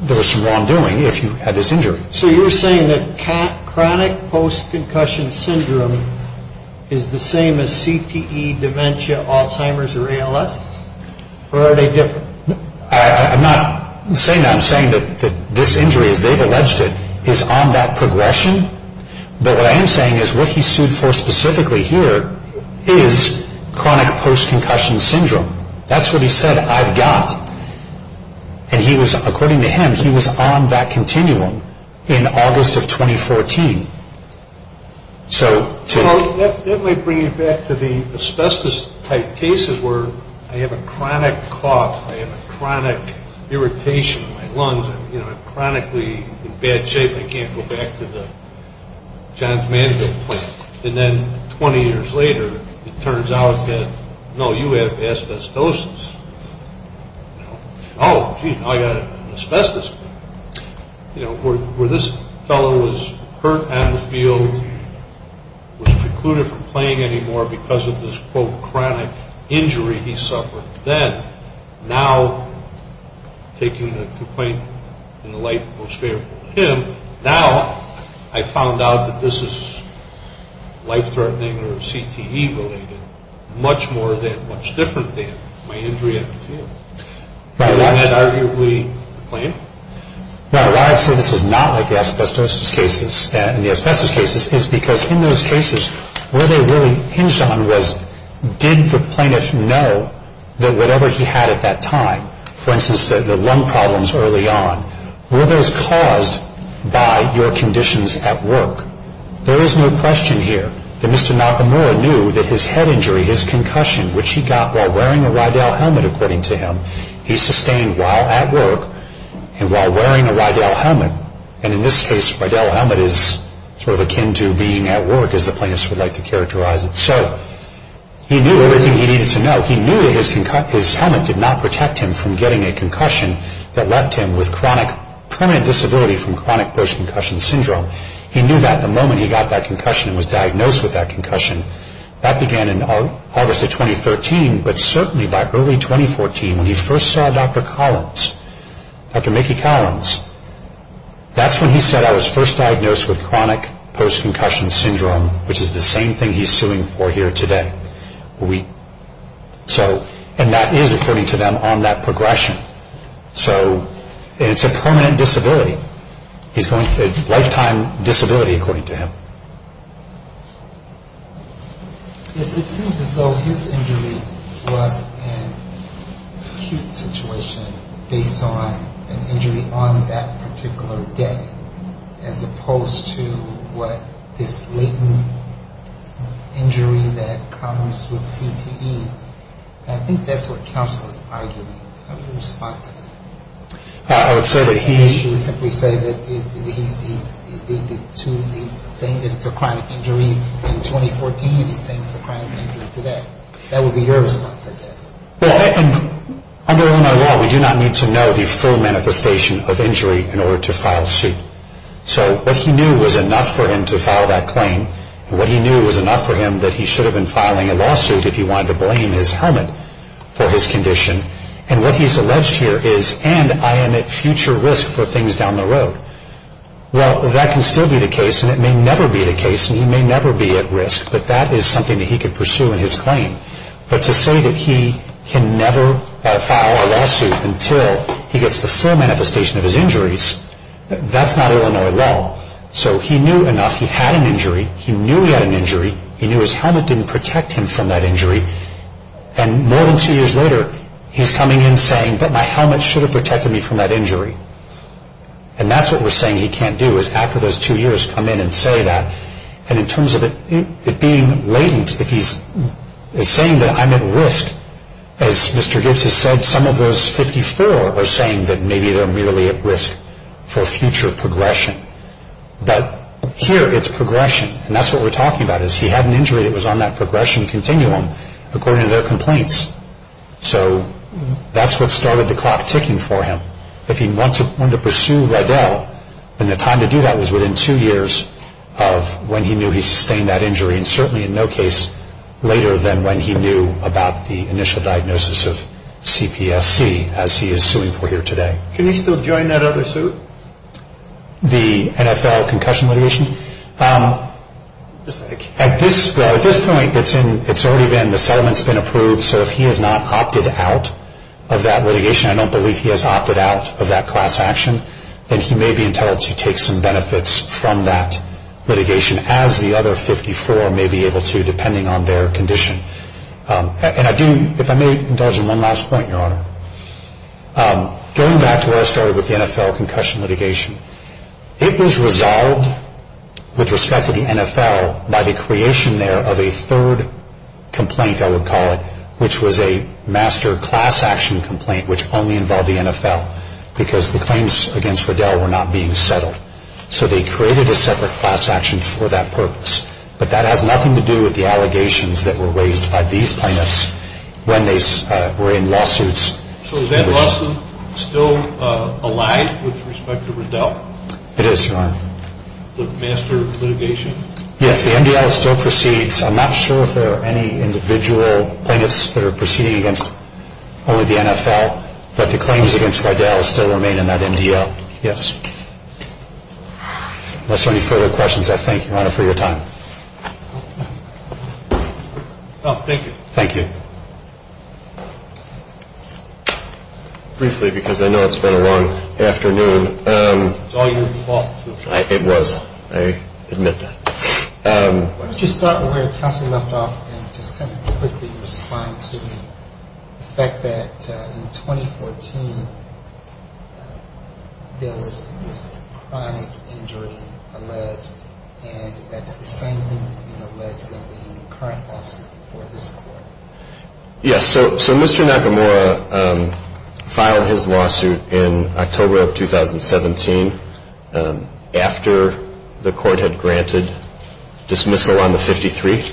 there was some wrongdoing if you had this injury. So you're saying that chronic post-concussion syndrome is the same as CTE, dementia, Alzheimer's, or ALS? Or are they different? I'm not saying that. I'm saying that this injury, as they've alleged it, is on that progression. But what I am saying is what he sued for specifically here is chronic post-concussion syndrome. That's what he said, I've got. And he was, according to him, he was on that continuum in August of 2014. So to... That might bring you back to the asbestos-type cases where I have a chronic cough, I have a chronic irritation in my lungs, I'm chronically in bad shape, I can't go back to the Johns Manville point. And then 20 years later, it turns out that, no, you have asbestosis. Oh, gee, now I've got asbestos. You know, where this fellow was hurt on the field, was precluded from playing anymore because of this, quote, chronic injury he suffered then, now, taking the complaint in the light most favorable to him, now I found out that this is life-threatening or CTE-related, much more than, much different than my injury at the field. And I had arguably complained. Now, why I say this is not like the asbestosis cases and the asbestos cases is because in those cases, where they really hinged on was, did the plaintiff know that whatever he had at that time, for instance, the lung problems early on, were those caused by your conditions at work? There is no question here that Mr. Nakamura knew that his head injury, his concussion, which he got while wearing a Rydell helmet, according to him, he sustained while at work and while wearing a Rydell helmet. And in this case, Rydell helmet is sort of akin to being at work, as the plaintiffs would like to characterize it. So he knew everything he needed to know. He knew that his helmet did not protect him from getting a concussion that left him with chronic permanent disability from chronic post-concussion syndrome. He knew that the moment he got that concussion and was diagnosed with that concussion. That began in August of 2013, but certainly by early 2014, when he first saw Dr. Collins, Dr. Mickey Collins, that's when he said, I was first diagnosed with chronic post-concussion syndrome, which is the same thing he's suing for here today. And that is, according to them, on that progression. So it's a permanent disability. It's a lifetime disability, according to him. It seems as though his injury was an acute situation based on an injury on that particular day, as opposed to what this latent injury that comes with CTE. I think that's what counsel is arguing. How do you respond to that? I would say that he. He should simply say that he sees the two things, saying that it's a chronic injury in 2014, and he's saying it's a chronic injury today. That would be your response, I guess. Well, under Illinois law, we do not need to know the full manifestation of injury in order to file suit. So what he knew was enough for him to file that claim, and what he knew was enough for him that he should have been filing a lawsuit if he wanted to blame his helmet for his condition. And what he's alleged here is, and I am at future risk for things down the road. Well, that can still be the case, and it may never be the case, and he may never be at risk, but that is something that he could pursue in his claim. But to say that he can never file a lawsuit until he gets the full manifestation of his injuries, that's not Illinois law. So he knew enough. He had an injury. He knew he had an injury. He knew his helmet didn't protect him from that injury. And more than two years later, he's coming in saying, but my helmet should have protected me from that injury. And that's what we're saying he can't do, is after those two years, come in and say that. And in terms of it being latent, if he's saying that I'm at risk, as Mr. Gibbs has said, some of those 54 are saying that maybe they're merely at risk for future progression. But here it's progression, and that's what we're talking about, is he had an injury that was on that progression continuum according to their complaints. So that's what started the clock ticking for him. If he wanted to pursue Riddell, then the time to do that was within two years of when he knew he sustained that injury, and certainly in no case later than when he knew about the initial diagnosis of CPSC, as he is suing for here today. Can he still join that other suit? The NFL concussion litigation? At this point, it's already been, the settlement's been approved, and so if he has not opted out of that litigation, I don't believe he has opted out of that class action, then he may be entitled to take some benefits from that litigation, as the other 54 may be able to, depending on their condition. And I do, if I may, indulge in one last point, Your Honor. Going back to where I started with the NFL concussion litigation, it was resolved with respect to the NFL by the creation there of a third complaint, I would call it, which was a master class action complaint, which only involved the NFL, because the claims against Riddell were not being settled. So they created a separate class action for that purpose, but that has nothing to do with the allegations that were raised by these plaintiffs when they were in lawsuits. So is Ed Lawson still alive with respect to Riddell? It is, Your Honor. The master litigation? Yes, the MDL still proceeds. I'm not sure if there are any individual plaintiffs that are proceeding against only the NFL, but the claims against Riddell still remain in that MDL, yes. Unless there are any further questions, I thank you, Your Honor, for your time. Thank you. Briefly, because I know it's been a long afternoon. It's all your fault. It was. I admit that. Why don't you start where Counselor left off and just kind of quickly respond to the fact that in 2014, there was this chronic injury alleged, and that's the same thing that's being alleged in the current lawsuit before this court. Yes, so Mr. Nakamura filed his lawsuit in October of 2017 after the court had granted dismissal on the 53.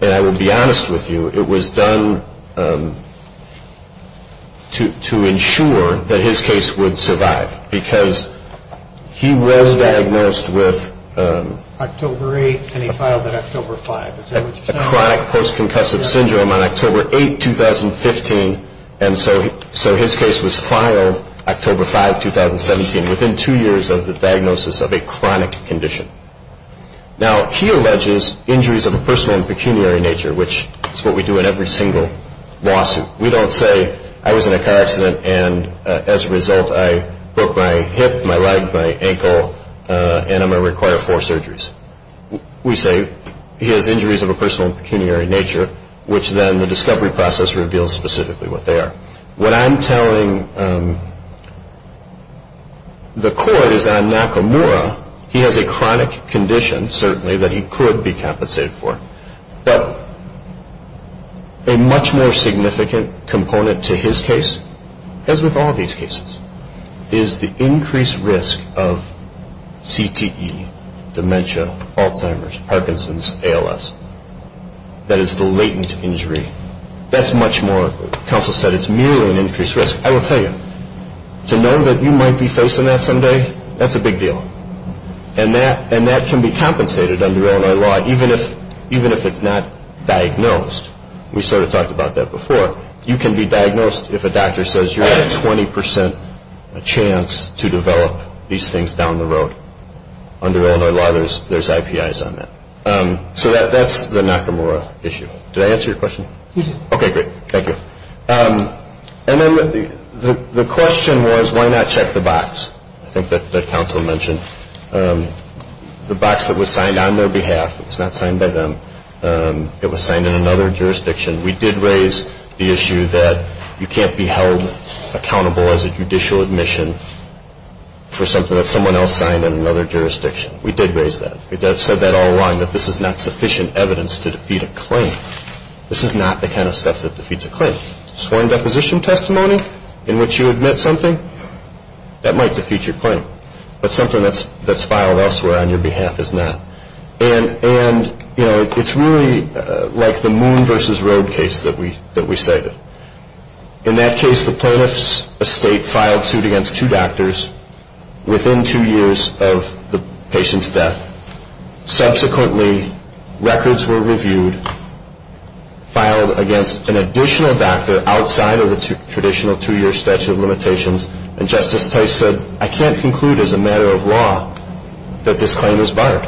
And I will be honest with you, it was done to ensure that his case would survive because he was diagnosed with a chronic post-concussive syndrome on October 8, 2015, and so his case was filed October 5, 2017, within two years of the diagnosis of a chronic condition. Now, he alleges injuries of a personal and pecuniary nature, which is what we do in every single lawsuit. We don't say, I was in a car accident, and as a result, I broke my hip, my leg, my ankle, and I'm going to require four surgeries. We say he has injuries of a personal and pecuniary nature, which then the discovery process reveals specifically what they are. What I'm telling the court is that on Nakamura, he has a chronic condition, certainly, that he could be compensated for. But a much more significant component to his case, as with all these cases, is the increased risk of CTE, dementia, Alzheimer's, Parkinson's, ALS. That is the latent injury. That's much more, counsel said, it's merely an increased risk. I will tell you, to know that you might be facing that someday, that's a big deal. And that can be compensated under Illinois law, even if it's not diagnosed. We sort of talked about that before. You can be diagnosed if a doctor says you have 20 percent chance to develop these things down the road. Under Illinois law, there's IPIs on that. So that's the Nakamura issue. Did I answer your question? You did. Okay, great. Thank you. And then the question was, why not check the box? I think that counsel mentioned the box that was signed on their behalf. It was not signed by them. It was signed in another jurisdiction. We did raise the issue that you can't be held accountable as a judicial admission for something that someone else signed in another jurisdiction. We did raise that. We said that all along, that this is not sufficient evidence to defeat a claim. This is not the kind of stuff that defeats a claim. A sworn deposition testimony in which you admit something, that might defeat your claim. But something that's filed elsewhere on your behalf is not. And, you know, it's really like the Moon v. Road case that we cited. In that case, the plaintiff's estate filed suit against two doctors within two years of the patient's death. Subsequently, records were reviewed, filed against an additional doctor outside of the traditional two-year statute of limitations, and Justice Tice said, I can't conclude as a matter of law that this claim is barred.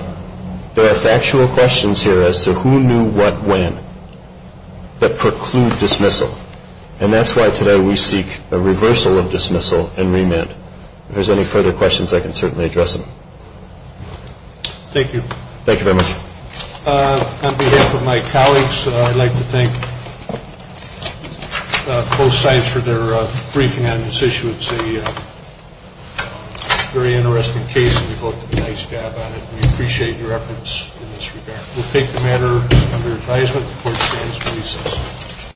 There are factual questions here as to who knew what when that preclude dismissal. And that's why today we seek a reversal of dismissal and remand. If there's any further questions, I can certainly address them. Thank you. Thank you very much. On behalf of my colleagues, I'd like to thank both sides for their briefing on this issue. It's a very interesting case, and you both did a nice job on it. We appreciate your efforts in this regard. We'll take the matter under advisement. The court stands to recess.